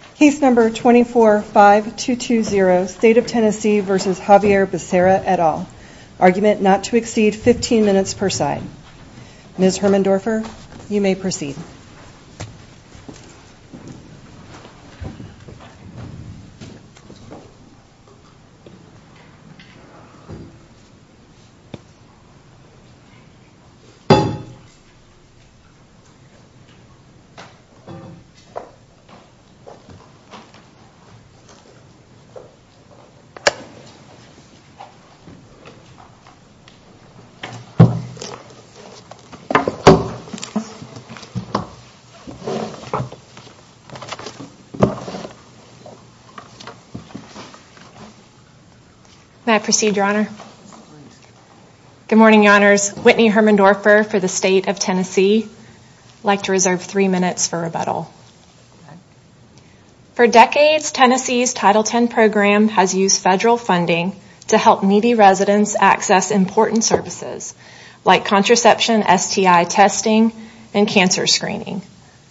at all. Argument not to exceed 15 minutes per side. Ms. Hermendorfer, you may proceed. May I proceed, Your Honor? Good morning, Your Honors. Whitney Hermendorfer for the State of Tennessee would like to reserve three minutes for rebuttal. For decades, Tennessee's Title X program has used federal funding to help needy residents access important services like contraception, STI testing, and cancer screening.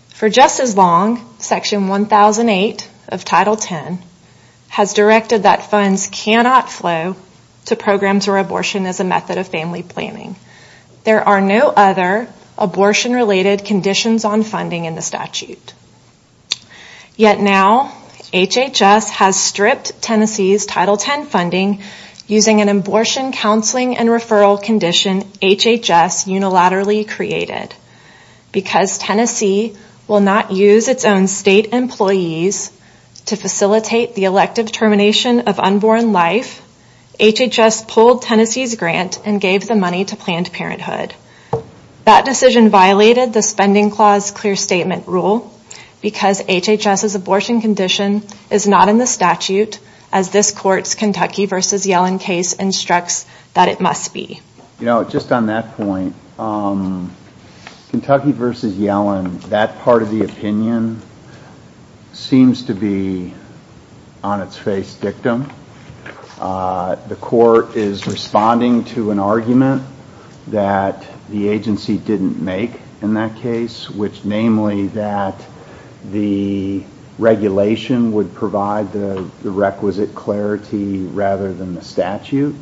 For just as long, Section 1008 of Title X has directed that funds cannot flow to programs where abortion is a method of family planning. There are no other abortion-related conditions on funding in the statute. Yet now, HHS has stripped Tennessee's Title X funding using an abortion counseling and referral condition HHS unilaterally created. Because Tennessee will not use its own state employees to facilitate the elective termination of unborn life, HHS pulled Tennessee's grant and gave the money to Planned Parenthood. That decision violated the Spending Clause Clear Statement Rule because HHS's abortion condition is not in the statute as this Court's Kentucky v. Yellen case instructs that it must be. You know, just on that point, Kentucky v. Yellen, that part of the opinion seems to be on its face dictum. The Court is responding to an argument that the agency didn't make in that case, which namely that the regulation would provide the requisite clarity rather than the statute.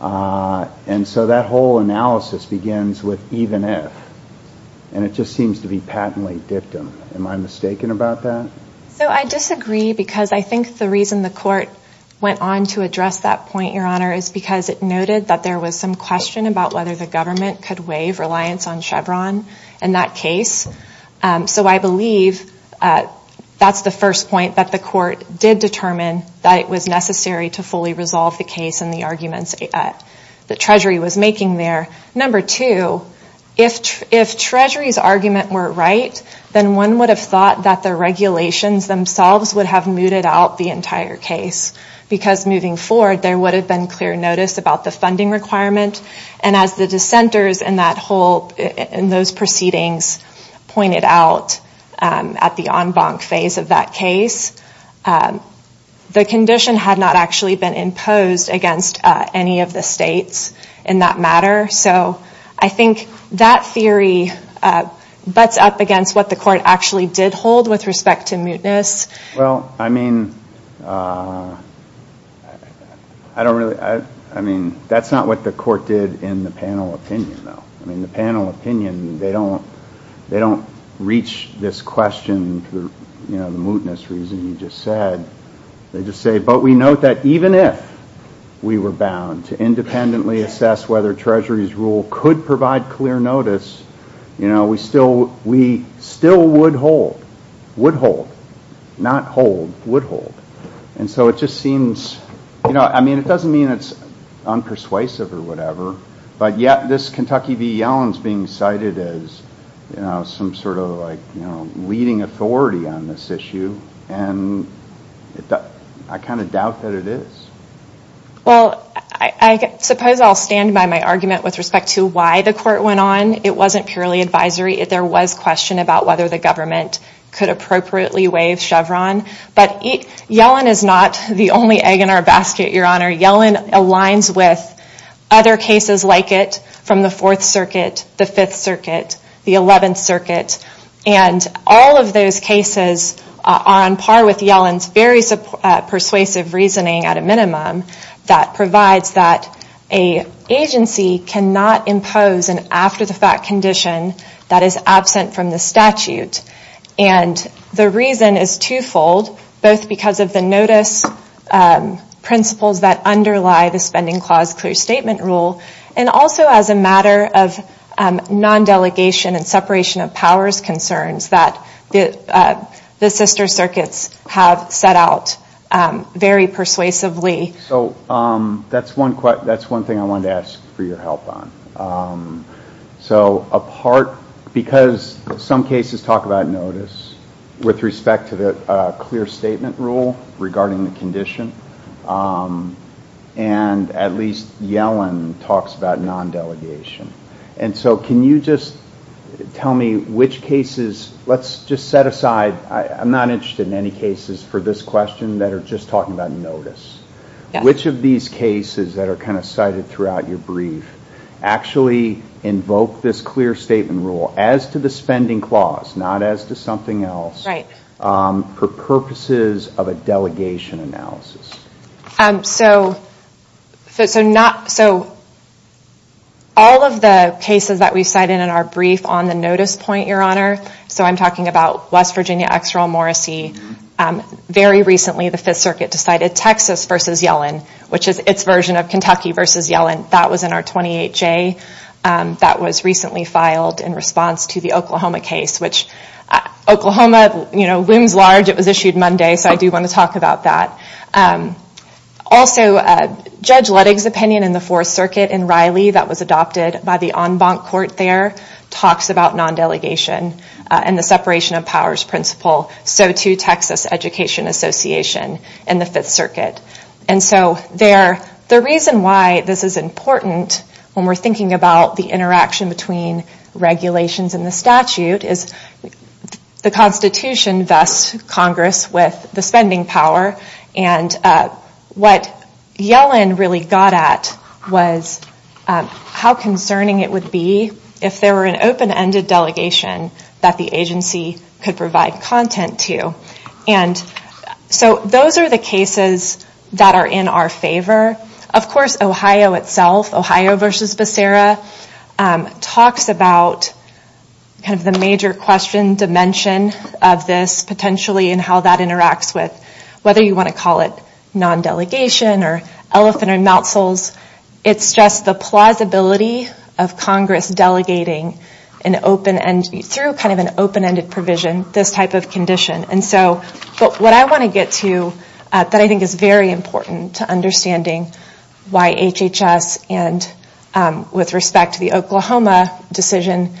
And so that whole analysis begins with even if. And it just seems to be patently dictum. Am I mistaken about that? So I disagree because I think the reason the Court went on to address that point, Your Honor, is because it noted that there was some question about whether the government could waive reliance on Chevron in that case. So I believe that's the first point that the Court did determine that it was necessary to fully resolve the case and the arguments that Treasury was making there. Number two, if Treasury's argument were right, then one would have thought that the regulations themselves would have mooted out the entire case. Because moving forward, there would have been clear notice about the funding requirement. And as the dissenters in those proceedings pointed out at the en banc phase of that case, the condition had not actually been imposed against any of the states in that matter. So I think that theory butts up against what the Court actually did hold with respect to mootness. Well, I mean, I don't really, I mean, that's not what the Court did in the panel opinion, though. I mean, the panel opinion, they don't reach this question for the mootness reason you just said. They just say, but we note that even if we were bound to independently assess whether Treasury's rule could provide clear notice, you know, we still, we still would hold, would hold, not hold, would hold. And so it just seems, you know, I mean, it doesn't mean it's unpersuasive or whatever, but yet this Kentucky v. Yellen's being cited as, you know, some sort of like, you know, leading authority on this issue. And I kind of doubt that it is. Well, I suppose I'll stand by my argument with respect to why the Court went on. It wasn't purely advisory. There was question about whether the government could appropriately waive Chevron. But Yellen is not the only egg in our basket, Your Honor. Yellen aligns with other cases like it from the Fourth Circuit, the Fifth Circuit, the Eleventh Circuit. And all of those cases are on par with Yellen's very persuasive reasoning at a minimum that provides that an agency cannot impose an after-the-fact condition that is absent from the statute. And the reason is twofold, both because of the notice principles that underlie the Spending Clause Clear Statement Rule, and also as a matter of non-delegation and separation of powers concerns that the sister circuits have set out very persuasively. So that's one thing I wanted to ask for your help on. So a part, because some cases talk about notice with respect to the Clear Statement Rule regarding the condition. And at least Yellen talks about non-delegation. And so can you just tell me which cases, let's just set aside, I'm not interested in any cases for this question that are just talking about notice. Which of these cases that are kind of cited throughout your brief actually invoke this Clear Statement Rule as to the Spending Clause, not as to something else, for purposes of a delegation analysis? So all of the cases that we've cited in our brief on the notice point, Your Honor, so I'm talking about West Virginia, Exeril, Morrissey. Very recently the Fifth Circuit decided Texas versus Yellen, which is its version of Kentucky versus Yellen. That was in our 28J. That was recently filed in response to the Oklahoma case, which Oklahoma, you know, looms large. The budget was issued Monday, so I do want to talk about that. Also, Judge Luttig's opinion in the Fourth Circuit in Riley, that was adopted by the en banc court there, talks about non-delegation and the separation of powers principle. So too Texas Education Association in the Fifth Circuit. And so the reason why this is important when we're thinking about the interaction between regulations and the statute is the Constitution vests Congress with the spending power and what Yellen really got at was how concerning it would be if there were an open ended delegation that the agency could provide content to. And so those are the cases that are in our favor. Of course, Ohio itself, Ohio versus Becerra, talks about kind of the major question dimension of this potentially and how that interacts with whether you want to call it non-delegation or elephant and mousles. It's just the plausibility of Congress delegating through kind of an open ended provision, this type of condition. And so what I want to get to that I think is very important to understanding why HHS and with respect to the Oklahoma decision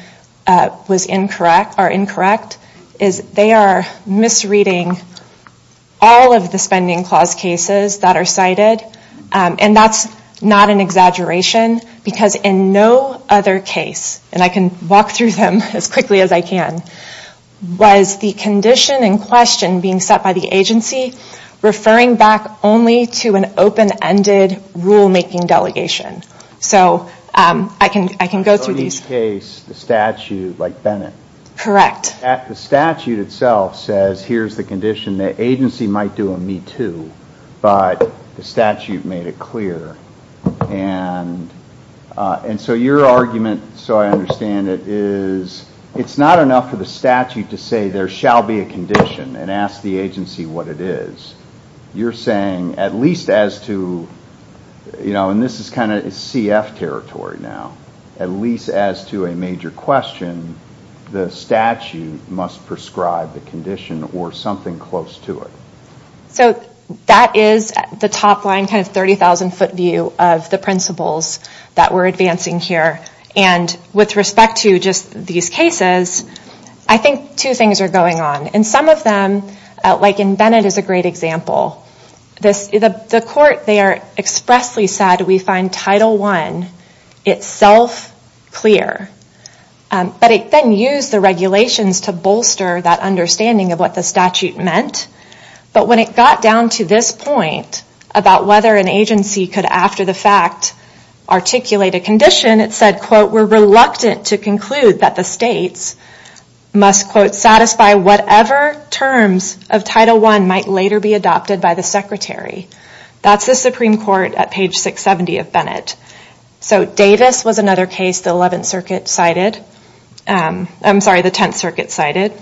was incorrect or incorrect is they are misreading all of the spending clause cases that are cited. And that's not an exaggeration because in no other case, and I can walk through them as quickly as I can, was the condition in question being set by the agency referring back only to an open ended rule making delegation. So I can go through these. So in each case, the statute, like Bennett, the statute itself says here's the condition the agency might do a me too, but the statute made it clear. And so your argument, so I understand it, is it's not enough for the statute to say there shall be a condition and ask the agency what it is. You're saying at least as to, you know, and this is kind of CF territory now, at least as to a major question, the statute must prescribe the condition or something close to it. So that is the top line kind of 30,000 foot view of the principles that we're advancing here. And with respect to just these cases, I think two things are going on. And some of them, like in Bennett is a great example, the court there expressly said we find Title 1 itself clear. But it then used the regulations to bolster that understanding of what the statute meant. But when it got down to this point about whether an agency could after the fact articulate a condition, it said, quote, we're reluctant to conclude that the states must, quote, satisfy whatever terms of Title 1 might later be adopted by the Secretary. That's the Supreme Court at page 670 of Bennett. So Davis was another case the 11th Circuit cited, I'm sorry, the 10th Circuit cited,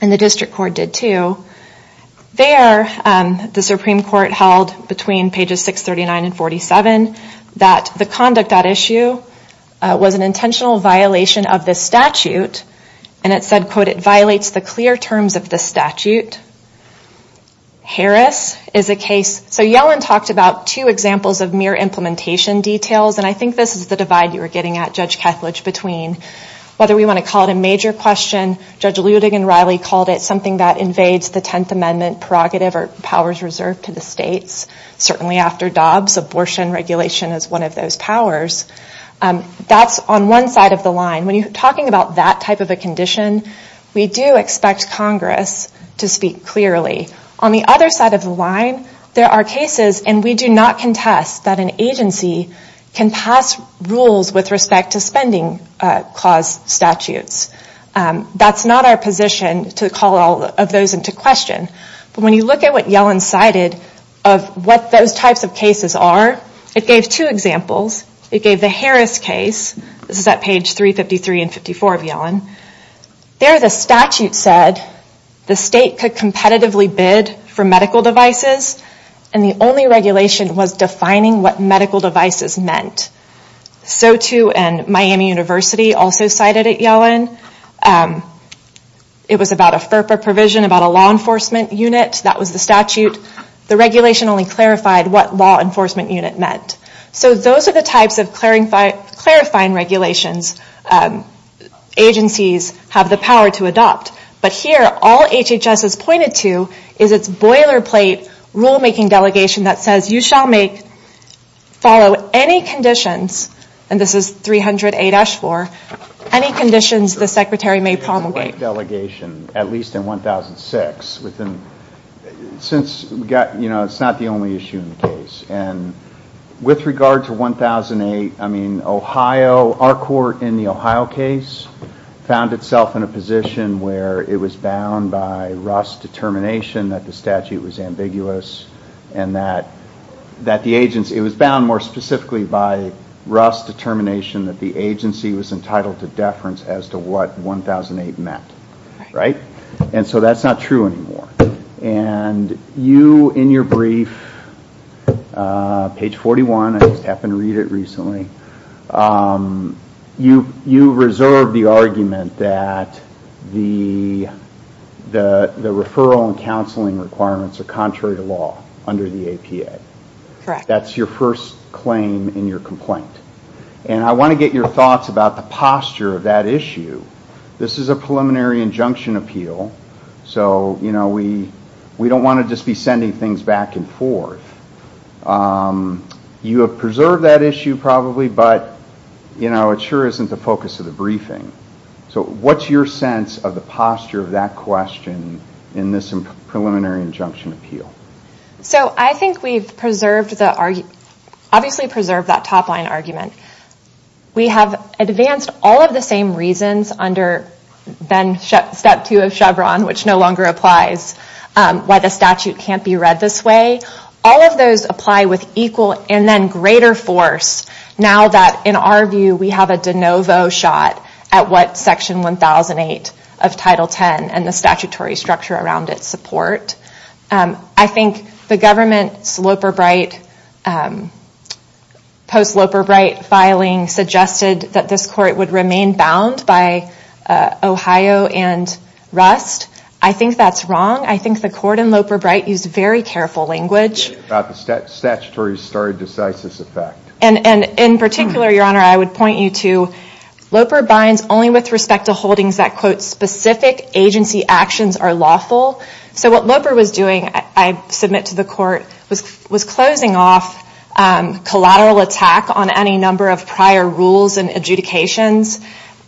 and the District Court did too. There the 639 and 47, that the conduct at issue was an intentional violation of the statute. And it said, quote, it violates the clear terms of the statute. Harris is a case, so Yellen talked about two examples of mere implementation details. And I think this is the divide you were getting at, Judge Kethledge, between whether we want to call it a major question, Judge Ludig and Riley called it something that invades the 10th Amendment prerogative or powers reserved to the states. Certainly after Dobbs, abortion regulation is one of those powers. That's on one side of the line. When you're talking about that type of a condition, we do expect Congress to speak clearly. On the other side of the line, there are cases, and we do not contest that an agency can pass rules with respect to spending clause statutes. That's not our position to call all of those into question. But when you look at what Yellen cited of what those types of cases are, it gave two examples. It gave the Harris case. This is at page 353 and 354 of Yellen. There the statute said the state could competitively bid for medical devices, and the only regulation was defining what medical devices meant. So too, and Miami University also cited at Yellen. It was about a FERPA provision, about a law enforcement unit. That was the statute. The regulation only clarified what law enforcement unit meant. So those are the types of clarifying regulations agencies have the power to adopt. But here, all HHS has pointed to is its boiler plate rulemaking delegation that says you shall follow any conditions, and this is 300 A-4, any conditions the secretary may promulgate. The boiler plate delegation, at least in 1006, since it's not the only issue in the case. With regard to 1008, our court in the Ohio case found itself in a position where it was bound by Russ's determination that the statute was ambiguous and that the agency, it was bound more specifically by Russ's determination that the agency was entitled to deference as to what 1008 meant. So that's not true anymore. You in your brief, page 41, I just happened to read it recently, you reserve the argument that the referral and counseling requirements are contrary to law under the APA. That's your first claim in your complaint. And I want to get your thoughts about the posture of that issue. This is a preliminary injunction appeal, so we don't want to just be sending things back and forth. You have preserved that issue probably, but it sure isn't the focus of the briefing. So what's your sense of the posture of that question in this preliminary injunction appeal? So I think we've preserved, obviously preserved that top line argument. We have advanced all of the same reasons under step two of Chevron, which no longer applies, why the statute can't be read this way. All of those apply with equal and then greater force now that in our view we have a de novo shot at what section 1008 of title 10 and the statutory structure around its support. I think the government's Loper-Bright, post-Loper-Bright filing suggested that this court would remain bound by Ohio and Rust. I think that's wrong. I think the court in Loper-Bright used very careful language. About the statutory stare decisis effect. And in particular, your honor, I would point you to Loper-Bright only with respect to holdings that quote, specific agency actions are lawful. So what Loper was doing, I submit to the court, was closing off collateral attack on any number of prior rules and adjudications.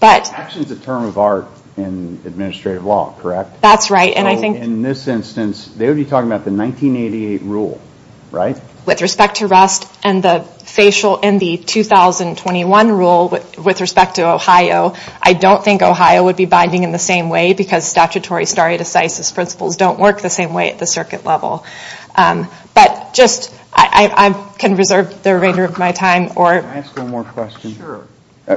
Action is a term of art in administrative law, correct? That's right. So in this instance, they would be talking about the 1988 rule, right? With respect to Rust and the facial in the 2021 rule with respect to Ohio, I don't think Ohio would be binding in the same way because statutory stare decisis principles don't work the same way at the circuit level. But just, I can reserve the remainder of my time or Can I ask one more question? Sure.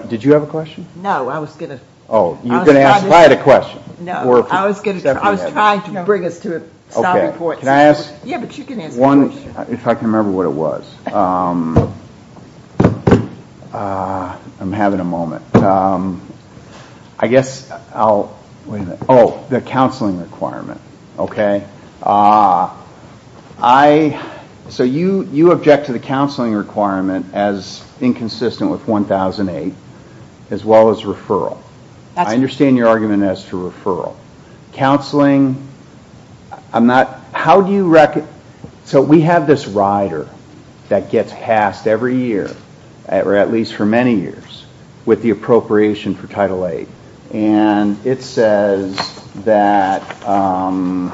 Did you have a question? No, I was going to Oh, you were going to ask Hyatt a question. No, I was going to, I was trying to bring us to a solid court Can I ask one, if I can remember what it was. I'm having a moment. I guess I'll, oh, the counseling requirement, okay? So you object to the counseling requirement as inconsistent with 1008 as well as referral. I understand your argument as to referral. Counseling, I'm not, how do you, so we have this rider that gets passed every year or at least for many years with the appropriation for title eight. And it says that, all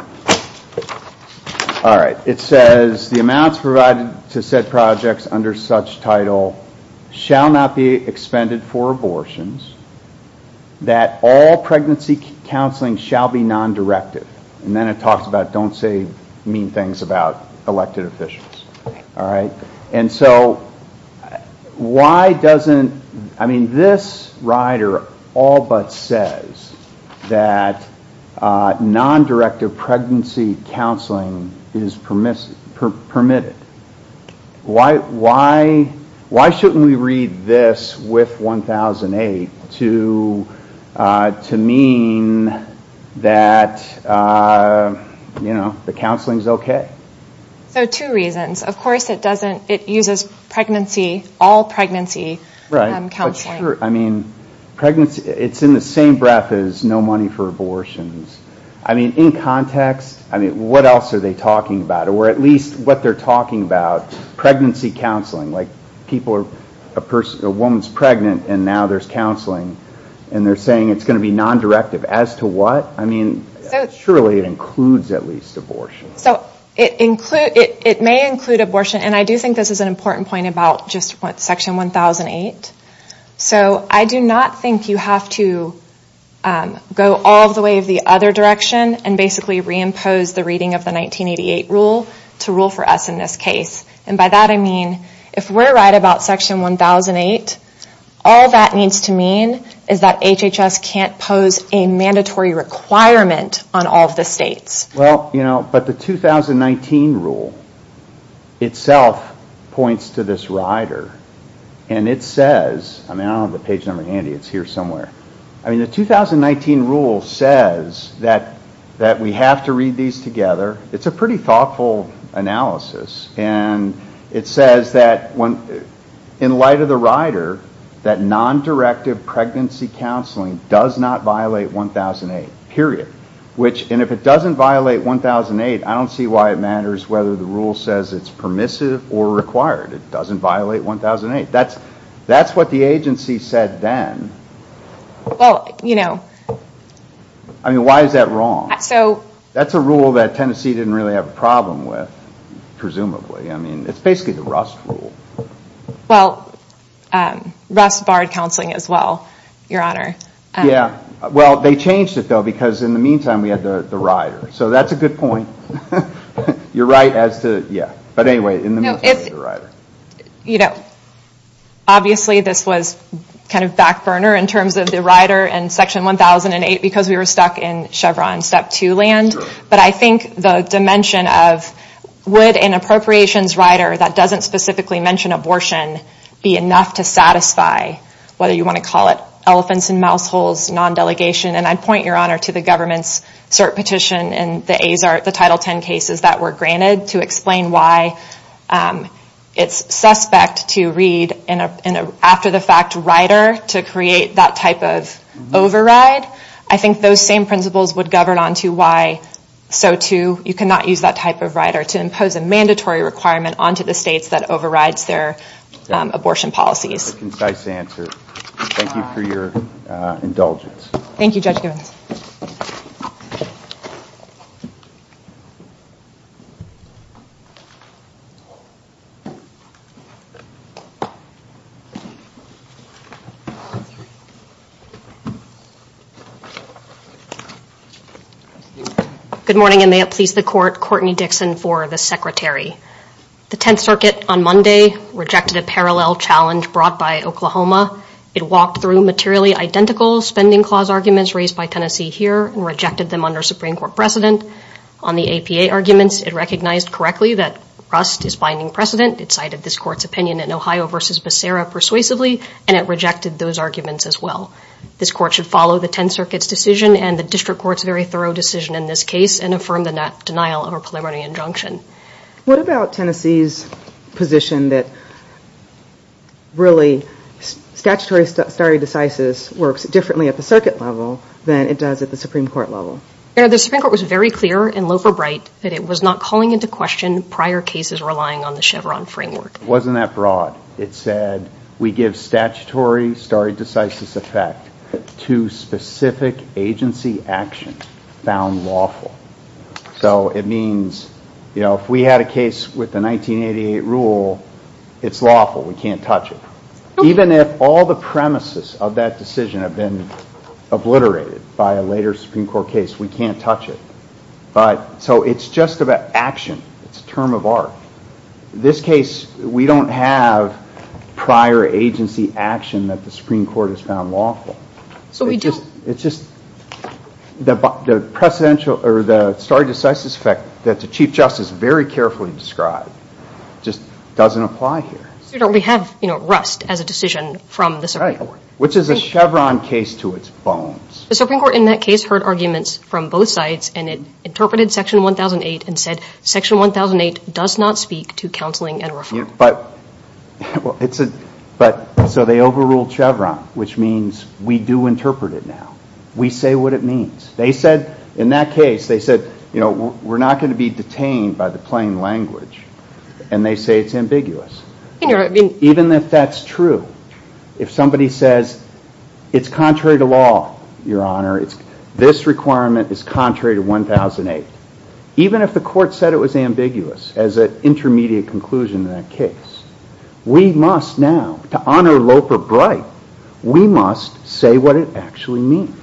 right, it says the amounts provided to said projects under such title shall not be expended for abortions, that all pregnancy counseling shall not be non-directive. And then it talks about don't say mean things about elected officials. All right. And so why doesn't, I mean, this rider all but says that non-directive pregnancy counseling is permitted. Why shouldn't we read this with 1008 to mean that, you know, the counseling is okay? So two reasons. Of course it doesn't, it uses pregnancy, all pregnancy counseling. Right. But sure, I mean, pregnancy, it's in the same breath as no money for abortions. I mean, in context, I mean, what else are they talking about? Or at least what they're talking about, pregnancy counseling, like people are, a person, a woman is pregnant and now there's counseling and they're saying it's going to be non-directive. As to what? I mean, surely it includes at least abortion. So it may include abortion. And I do think this is an important point about just what section 1008. So I do not think you have to go all the way of the other direction and basically reimpose the reading of the 1988 rule to rule for us in this case. And by that I mean, if we're right about section 1008, all that needs to mean is that HHS can't pose a mandatory requirement on all of the states. Well, but the 2019 rule itself points to this rider and it says, I mean, I don't have the page number handy, it's here somewhere. I mean, the 2019 rule says that we have to read these together. It's a pretty thoughtful analysis. And it says that in light of the rider, that does not violate 1008, period. And if it doesn't violate 1008, I don't see why it matters whether the rule says it's permissive or required. It doesn't violate 1008. That's what the agency said then. I mean, why is that wrong? That's a rule that Tennessee didn't really have a problem with, presumably. I mean, it's basically the Rust rule. Well, Rust barred counseling as well, Your Honor. Yeah. Well, they changed it though because in the meantime we had the rider. So that's a good point. You're right as to, yeah. But anyway, in the meantime we had the rider. Obviously this was kind of back burner in terms of the rider and section 1008 because we were stuck in Chevron Step 2 land. But I think the dimension of would an appropriations rider that doesn't specifically mention abortion be enough to satisfy, whether you want to call it elephants in mouse holes, non-delegation. And I'd point, Your Honor, to the government's cert petition and the title 10 cases that were granted to explain why it's suspect to read after the fact rider to create that type of override. I think those same principles would govern onto why so too you cannot use that type of rider to impose a mandatory requirement onto the states that overrides their abortion policies. That's a concise answer. Thank you for your indulgence. Thank you, Judge Givens. Good morning and may it please the Court, Courtney Dixon for the Secretary. The 10th Circuit on Monday rejected a parallel challenge brought by Oklahoma. It walked through materially identical spending clause arguments raised by Tennessee here and rejected them under Supreme Court precedent. On the APA arguments, it recognized correctly that Rust is finding precedent. It cited this Court's opinion in Ohio versus Becerra persuasively and it rejected those arguments as well. This Court should follow the 10th Circuit's decision and the District Court's very thorough decision in this case and affirm the denial of a preliminary injunction. What about Tennessee's position that really statutory stare decisis works differently at the circuit level than it does at the Supreme Court level? The Supreme Court was very clear and low for bright that it was not calling into question prior cases relying on the Chevron framework. It wasn't that broad. It said we give statutory stare decisis effect to specific agency actions found lawful. So it means if we had a case with the 1988 rule, it's lawful. We can't touch it. Even if all the premises of that decision have been obliterated by a later Supreme Court case, we can't touch it. So it's just about action. It's a term of art. This case, we don't have prior agency action that the Supreme Court has found lawful. The stare decisis effect that the Chief Justice very carefully described just doesn't apply here. We have rust as a decision from the Supreme Court. Which is a Chevron case to its bones. The Supreme Court in that case heard arguments from both sides and it interpreted Section 1008 and said Section 1008 does not speak to counseling and reform. So they overruled Chevron, which means we do interpret it now. We say what it means. They said in that case, they said we're not going to be detained by the plain language and they say it's ambiguous. Even if that's true, if somebody says it's contrary to law, Your Honor, this requirement is contrary to 1008. Even if the court said it was ambiguous as an intermediate conclusion in that case, we must now, to honor Loper Bright, we must say what it actually means.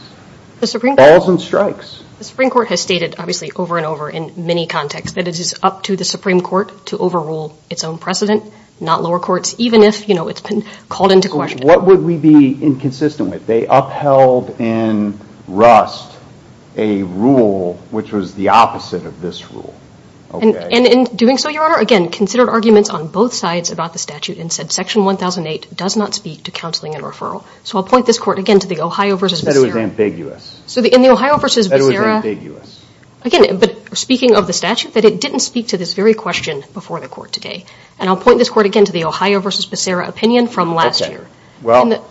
Balls and strikes. The Supreme Court has stated, obviously, over and over in many contexts that it is up to the Supreme Court to overrule its own precedent, not lower courts, even if it's been called into question. What would we be inconsistent with? They upheld in Rust a rule which was the opposite of this rule. In doing so, Your Honor, again, considered arguments on both sides about the statute and said Section 1008 does not speak to counseling and referral. So I'll point this court again to the Ohio v. Becerra opinion from last year. Well,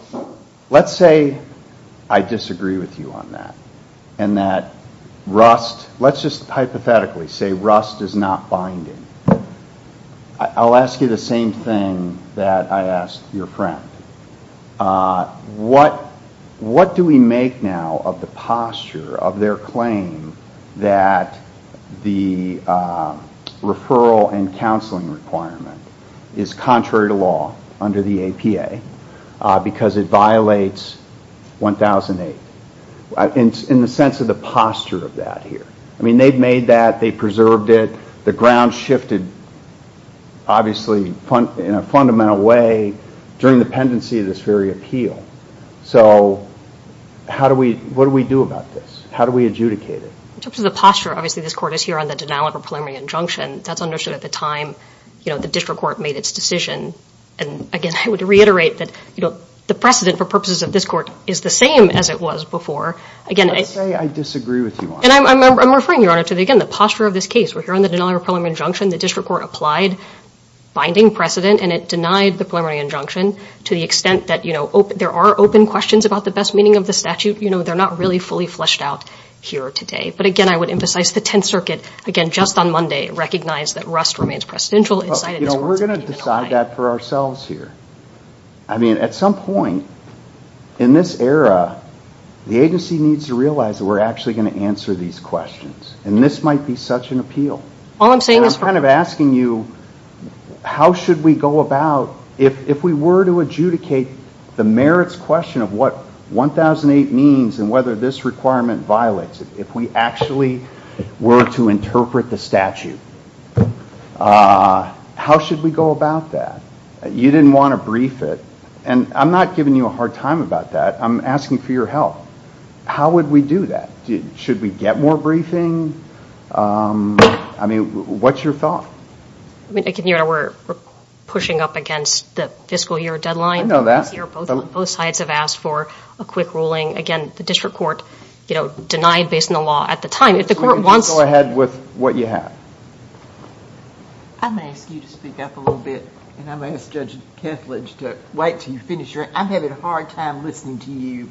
let's say I disagree with you on that and that Rust, let's just hypothetically say Rust is not binding. I'll ask you the same thing that I asked your friend. What do we make now of the posture of their claim that the referral and counseling requirement is contrary to law under the APA because it violates 1008? In the sense of the posture of that here. I mean, they've made that, they've preserved it. The ground shifted, obviously, in a fundamental way during the pendency of this very appeal. So what do we do about this? How do we adjudicate it? In terms of the posture, obviously, this court is here on the denial of a preliminary injunction. That's understood at the time the district court made its decision. And again, I would reiterate that the precedent for purposes of this court is the same as it was before. Let's say I disagree with you on that. And I'm referring, Your Honor, to the posture of this case. We're here on the denial of a preliminary injunction. The district court applied binding precedent and it denied the preliminary injunction to the extent that there are open questions about the best meaning of the statute. They're not really fully fleshed out here today. But again, I would emphasize the Tenth Circuit, again, just on Monday, recognized that Rust remains presidential and decided this court is going to keep it away. Well, you know, we're going to decide that for ourselves here. I mean, at some point in this era, the agency needs to realize that we're actually going to answer these questions. And this might be such an appeal. All I'm saying is for... I'm kind of asking you, how should we go about, if we were to adjudicate the merits question of what 1008 means and whether this requirement violates it, if we actually were to interpret the statute, how should we go about that? You didn't want to brief it. And I'm not giving you a hard time about that. I'm asking for your help. How would we do that? Should we get more briefing? I mean, what's your thought? I mean, again, Your Honor, we're pushing up against the fiscal year deadline. I know that. Both sides have asked for a quick ruling. Again, the district court, you know, denied based on the law at the time. If the court wants... Go ahead with what you have. I'm going to ask you to speak up a little bit. And I'm going to ask Judge Kethledge to wait until you finish your... I'm having a hard time listening to you.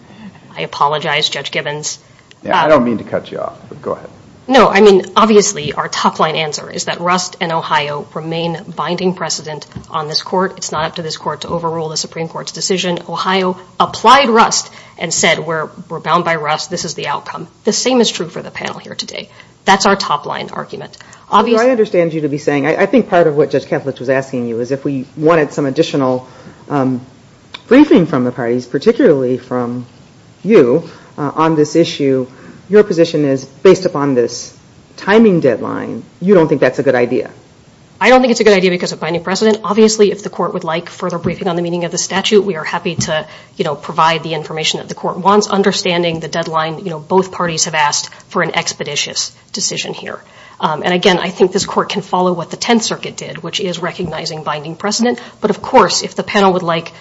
I apologize, Judge Gibbons. Yeah, I don't mean to cut you off, but go ahead. No, I mean, obviously, our top line answer is that Rust and Ohio remain binding precedent on this court. It's not up to this court to overrule the Supreme Court's decision. Ohio applied Rust and said, we're bound by Rust. This is the outcome. The same is true for the panel here today. That's our top line argument. Obviously... I understand you to be saying... I think part of what Judge Kethledge was asking you is if we wanted some additional briefing from the parties, particularly from you on this issue, your position is based upon this timing deadline, you don't think that's a good idea? I don't think it's a good idea because of binding precedent. Obviously, if the court would like further briefing on the meaning of the statute, we are happy to provide the information that the court wants, understanding the deadline both parties have asked for an expeditious decision here. Again, I think this court can follow what the Tenth Circuit did, which is recognizing binding precedent, but of course, if the panel would like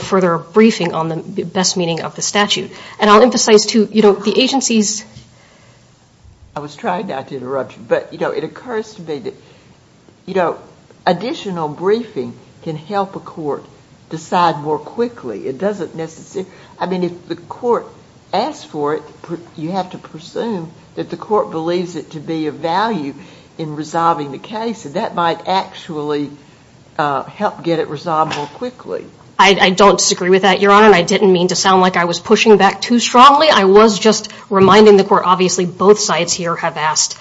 further briefing on the best meaning of the statute. I'll emphasize, too, the agency's... I was trying not to interrupt you, but it occurs to me that... Further briefing can help a court decide more quickly. It doesn't necessarily... I mean, if the court asks for it, you have to presume that the court believes it to be of value in resolving the case, and that might actually help get it resolved more quickly. I don't disagree with that, Your Honor, and I didn't mean to sound like I was pushing back too strongly. I was just reminding the court, obviously, both sides here have asked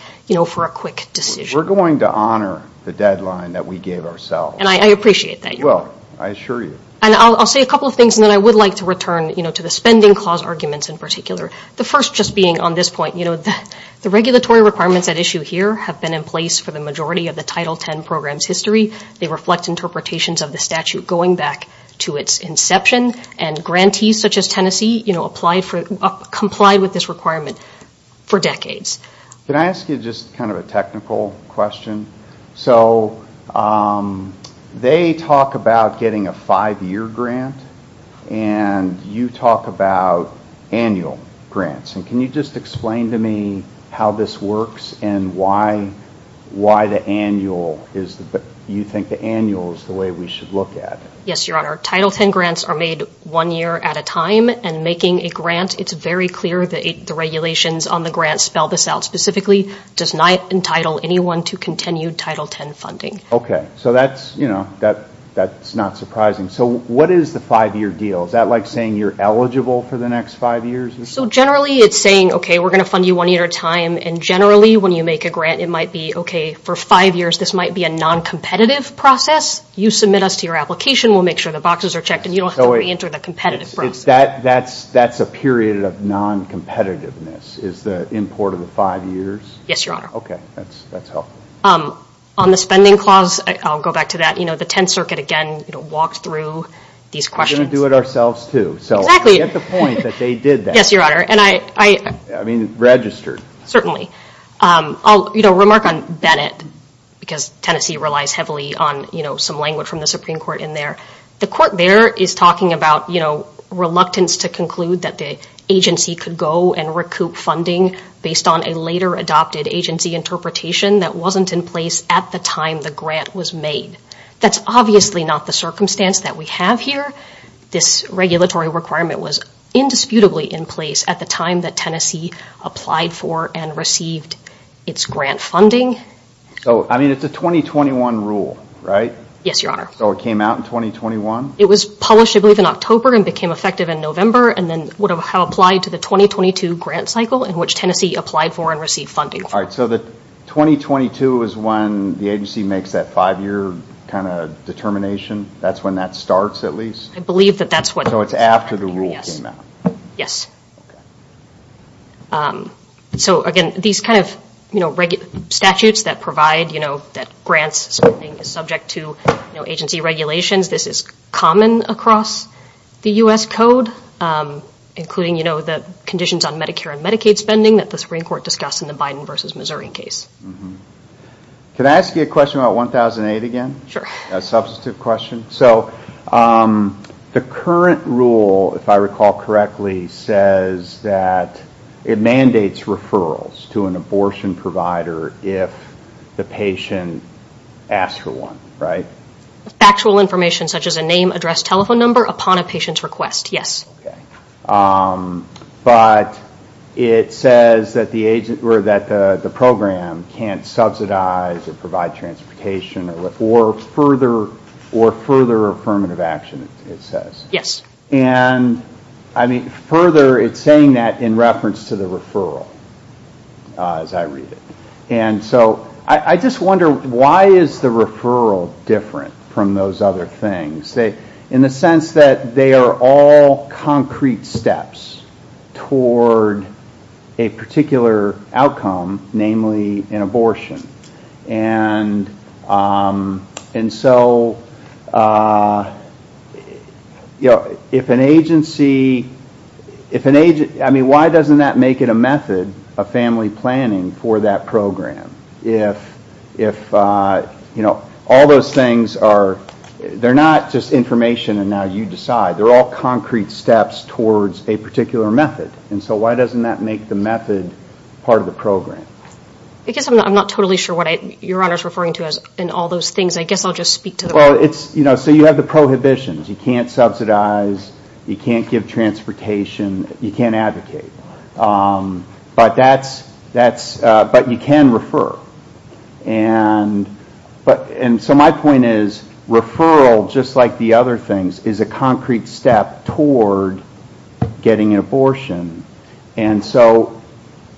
for a quick decision. We're going to honor the deadline that we gave ourselves. I appreciate that, Your Honor. Well, I assure you. I'll say a couple of things, and then I would like to return to the spending clause arguments in particular. The first just being on this point, the regulatory requirements at issue here have been in place for the majority of the Title X program's history. They reflect interpretations of the statute going back to its inception, and grantees such as Tennessee complied with this requirement for decades. Can I ask you just kind of a technical question? So they talk about getting a five-year grant, and you talk about annual grants, and can you just explain to me how this works, and why the annual is... You think the annual is the way we should look at it? Yes, Your Honor. Title X grants are made one year at a time, and making a grant, it's very clear the regulations on the grant spell this out specifically, does not entitle anyone to continued Title X funding. Okay. So that's not surprising. So what is the five-year deal? Is that like saying you're eligible for the next five years? So generally, it's saying, okay, we're going to fund you one year at a time, and generally, when you make a grant, it might be, okay, for five years, this might be a non-competitive process. You submit us to your application. We'll make sure the boxes are checked, and you don't have to reenter the competitive process. But that's a period of non-competitiveness, is the import of the five years? Yes, Your Honor. Okay. That's helpful. On the spending clause, I'll go back to that. The Tenth Circuit, again, walked through these questions. We're going to do it ourselves, too. Exactly. So I get the point that they did that. Yes, Your Honor. And I... I mean, registered. Certainly. I'll remark on Bennett, because Tennessee relies heavily on some language from the Supreme Court in there. The court there is talking about, you know, reluctance to conclude that the agency could go and recoup funding based on a later adopted agency interpretation that wasn't in place at the time the grant was made. That's obviously not the circumstance that we have here. This regulatory requirement was indisputably in place at the time that Tennessee applied for and received its grant funding. So I mean, it's a 2021 rule, right? Yes, Your Honor. So it came out in 2021? It was published, I believe, in October and became effective in November, and then would have applied to the 2022 grant cycle in which Tennessee applied for and received funding for. All right. So the 2022 is when the agency makes that five-year kind of determination? That's when that starts, at least? I believe that that's what... So it's after the rule came out? Yes. Okay. So, again, these kind of, you know, regular statutes that provide, you know, that grants spending is subject to agency regulations. This is common across the U.S. Code, including, you know, the conditions on Medicare and Medicaid spending that the Supreme Court discussed in the Biden versus Missouri case. Can I ask you a question about 1008 again? Sure. A substantive question. So the current rule, if I recall correctly, says that it mandates referrals to an abortion provider if the patient asks for one, right? Factual information, such as a name, address, telephone number, upon a patient's request, yes. Okay. But it says that the program can't subsidize or provide transportation or further affirmative action, it says? Yes. And, I mean, further, it's saying that in reference to the referral, as I read it. And so I just wonder, why is the referral different from those other things? In the sense that they are all concrete steps toward a particular outcome, namely an abortion. And so, you know, if an agency, I mean, why doesn't that make it a method of family planning for that program? If, you know, all those things are, they're not just information and now you decide. They're all concrete steps towards a particular method. And so why doesn't that make the method part of the program? I guess I'm not totally sure what Your Honor is referring to in all those things. I guess I'll just speak to the... Well, it's, you know, so you have the prohibitions. You can't subsidize. You can't give transportation. You can't advocate. But that's, but you can refer. And so my point is, referral, just like the other things, is a concrete step toward getting an abortion. And so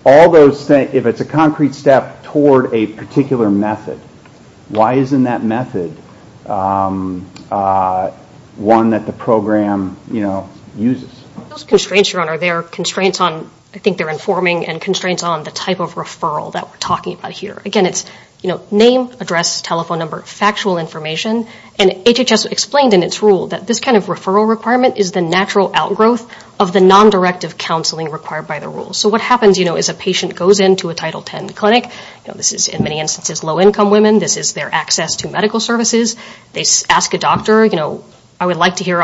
all those things, if it's a concrete step toward a particular method, why isn't that method one that the program, you know, uses? Those constraints, Your Honor, they're constraints on, I think they're informing and constraints on the type of referral that we're talking about here. Again, it's, you know, name, address, telephone number, factual information. And HHS explained in its rule that this kind of referral requirement is the natural outgrowth of the non-directive counseling required by the rule. So what happens, you know, is a patient goes into a Title X clinic. This is, in many instances, low-income women. This is their access to medical services. They ask a doctor, you know, I would like to hear,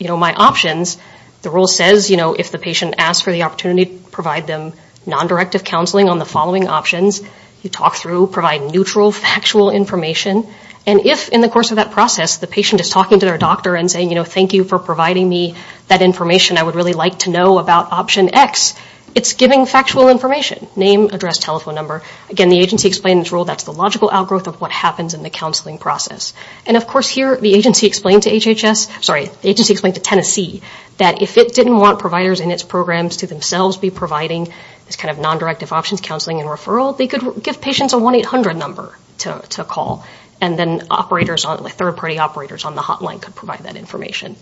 you know, my options. The rule says, you know, if the patient asks for the opportunity, provide them non-directive counseling on the following options. You talk through, provide neutral, factual information. And if, in the course of that process, the patient is talking to their doctor and saying, you know, thank you for providing me that information I would really like to know about option X, it's giving factual information, name, address, telephone number. Again, the agency explained in its rule that's the logical outgrowth of what happens in the counseling process. And of course here, the agency explained to HHS, sorry, the agency explained to Tennessee that if it didn't want providers in its programs to themselves be providing this kind of non-directive options counseling and referral, they could give patients a 1-800 number to call. And then operators, third-party operators on the hotline could provide that information.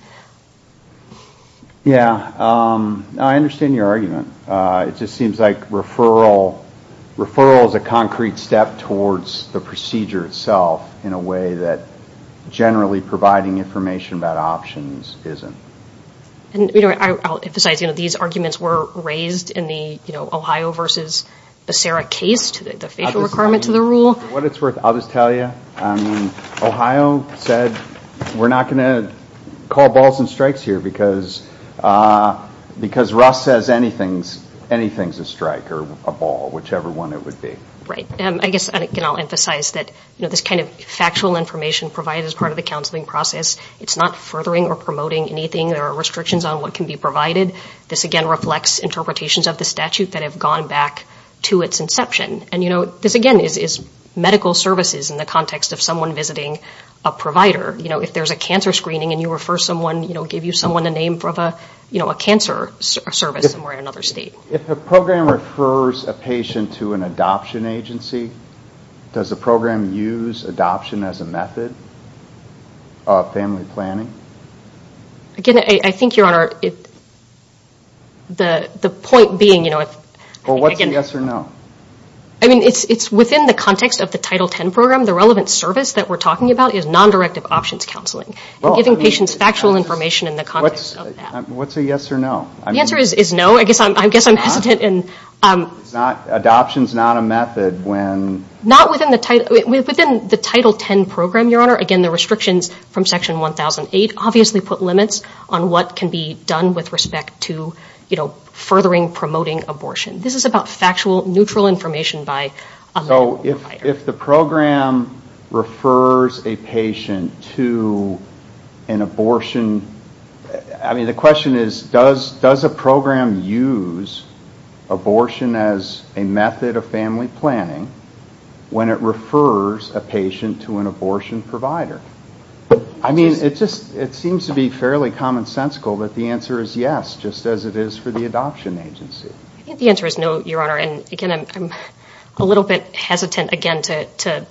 Yeah, I understand your argument. It just seems like referral, referral is a concrete step towards the procedure itself in a way that generally providing information about options isn't. And, you know, I'll emphasize, you know, these arguments were raised in the, you know, Ohio versus Becerra case, the facial requirement to the rule. What it's worth, I'll just tell you, Ohio said we're not going to call balls and strikes here because, because Russ says anything's, anything's a strike or a ball, whichever one it would be. Right. I guess I'll emphasize that, you know, this kind of factual information provided as part of the counseling process, it's not furthering or promoting anything, there are restrictions on what can be provided. This again reflects interpretations of the statute that have gone back to its inception. And, you know, this again is medical services in the context of someone visiting a provider. You know, if there's a cancer screening and you refer someone, you know, give you someone the name of a, you know, a cancer service somewhere in another state. If a program refers a patient to an adoption agency, does the program use adoption as a method of family planning? Again, I think, Your Honor, the point being, you know, if... Well, what's a yes or no? I mean, it's within the context of the Title X program, the relevant service that we're talking about is non-directive options counseling and giving patients factual information in the context of that. What's a yes or no? I mean... The answer is no. I guess I'm hesitant in... It's not, adoption's not a method when... Not within the title, within the Title X program, Your Honor. Again, the restrictions from Section 1008 obviously put limits on what can be done with respect to, you know, furthering, promoting abortion. This is about factual, neutral information by a medical provider. If the program refers a patient to an abortion, I mean, the question is, does a program use abortion as a method of family planning when it refers a patient to an abortion provider? I mean, it just, it seems to be fairly commonsensical that the answer is yes, just as it is for the adoption agency. I think the answer is no, Your Honor, and again, I'm a little bit hesitant, again, to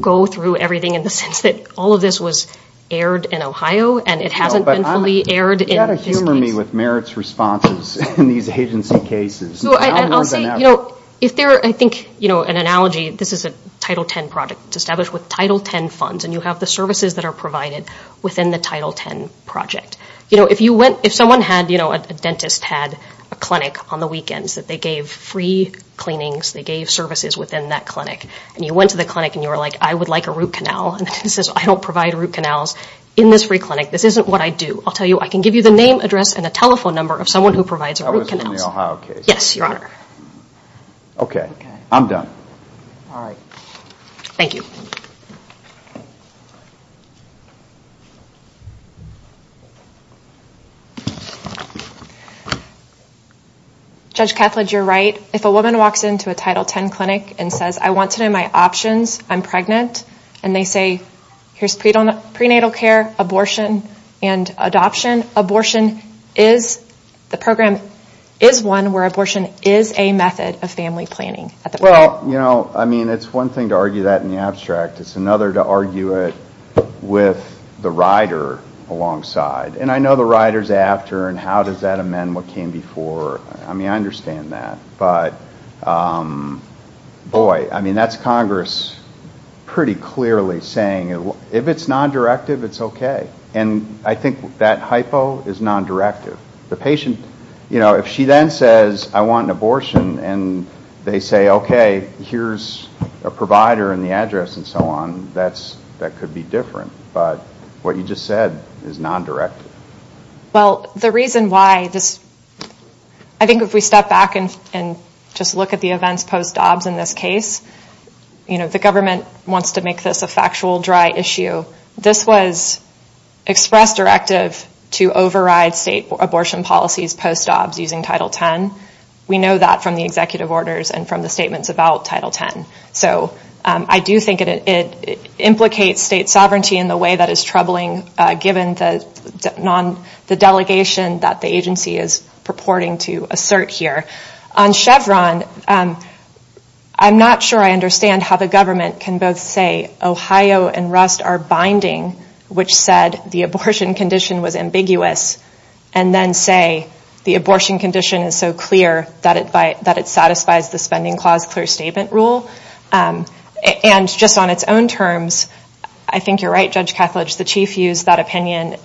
go through everything in the sense that all of this was aired in Ohio and it hasn't been fully aired in this case. No, but you've got to humor me with merits responses in these agency cases. Now more than ever. I'll say, you know, if there, I think, you know, an analogy, this is a Title X project to establish with Title X funds and you have the services that are provided within the Title X project. You know, if you went, if someone had, you know, a dentist had a clinic on the weekends that they gave free cleanings, they gave services within that clinic and you went to the clinic and you were like, I would like a root canal and the dentist says, I don't provide root canals in this free clinic. This isn't what I do. I'll tell you, I can give you the name, address, and a telephone number of someone who provides a root canal. I was in the Ohio case. Yes, Your Honor. Okay. I'm done. All right. Thank you. Judge Kethledge, you're right. If a woman walks into a Title X clinic and says, I want to know my options, I'm pregnant, and they say, here's prenatal care, abortion, and adoption. Abortion is, the program is one where abortion is a method of family planning. Well, you know, I mean, it's one thing to argue that in the abstract. It's another to argue it with the rider alongside. And I know the rider's after, and how does that amend what came before? I mean, I understand that, but boy, I mean, that's Congress pretty clearly saying, if it's non-directive, it's okay. And I think that hypo is non-directive. The patient, you know, if she then says, I want an abortion, and they say, okay, here's a provider and the address and so on, that could be different. But what you just said is non-directive. Well, the reason why this, I think if we step back and just look at the events post-OBS in this case, you know, the government wants to make this a factual, dry issue. This was expressed directive to override state abortion policies post-OBS using Title X. We know that from the executive orders and from the statements about Title X. So I do think it implicates state sovereignty in the way that is troubling, given the delegation that the agency is purporting to assert here. On Chevron, I'm not sure I understand how the government can both say Ohio and Rust are binding, which said the abortion condition was ambiguous, and then say the abortion condition is so clear that it satisfies the Spending Clause clear statement rule. And just on its own terms, I think you're right, Judge Kethledge, the Chief used that opinion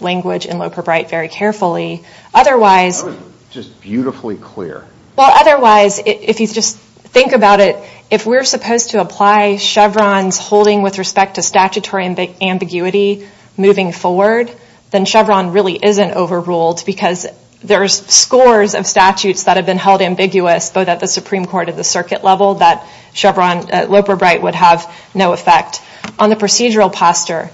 language in Loper-Bright very carefully. Otherwise... That was just beautifully clear. Well, otherwise, if you just think about it, if we're supposed to apply Chevron's holding with respect to statutory ambiguity moving forward, then Chevron really isn't overruled because there's scores of statutes that have been held ambiguous, both at the Supreme Court and the circuit level, that Chevron, Loper-Bright would have no effect. On the procedural posture,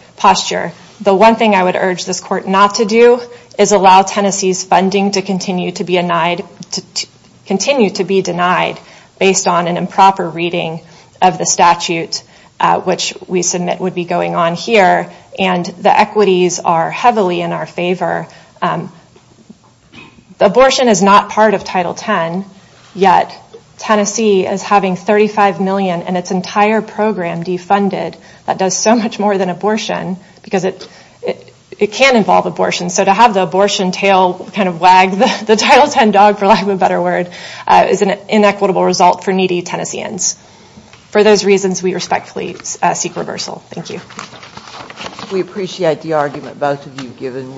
the one thing I would urge this court not to do is allow Tennessee's funding to continue to be denied based on an improper reading of the statute, which we submit would be going on here, and the equities are heavily in our favor. Abortion is not part of Title X, yet Tennessee is having $35 million in its entire program defunded that does so much more than abortion, because it can involve abortion, so to have the abortion tail kind of wag the Title X dog, for lack of a better word, is an inequitable result for needy Tennesseans. For those reasons, we respectfully seek reversal. Thank you. We appreciate the argument both of you have given.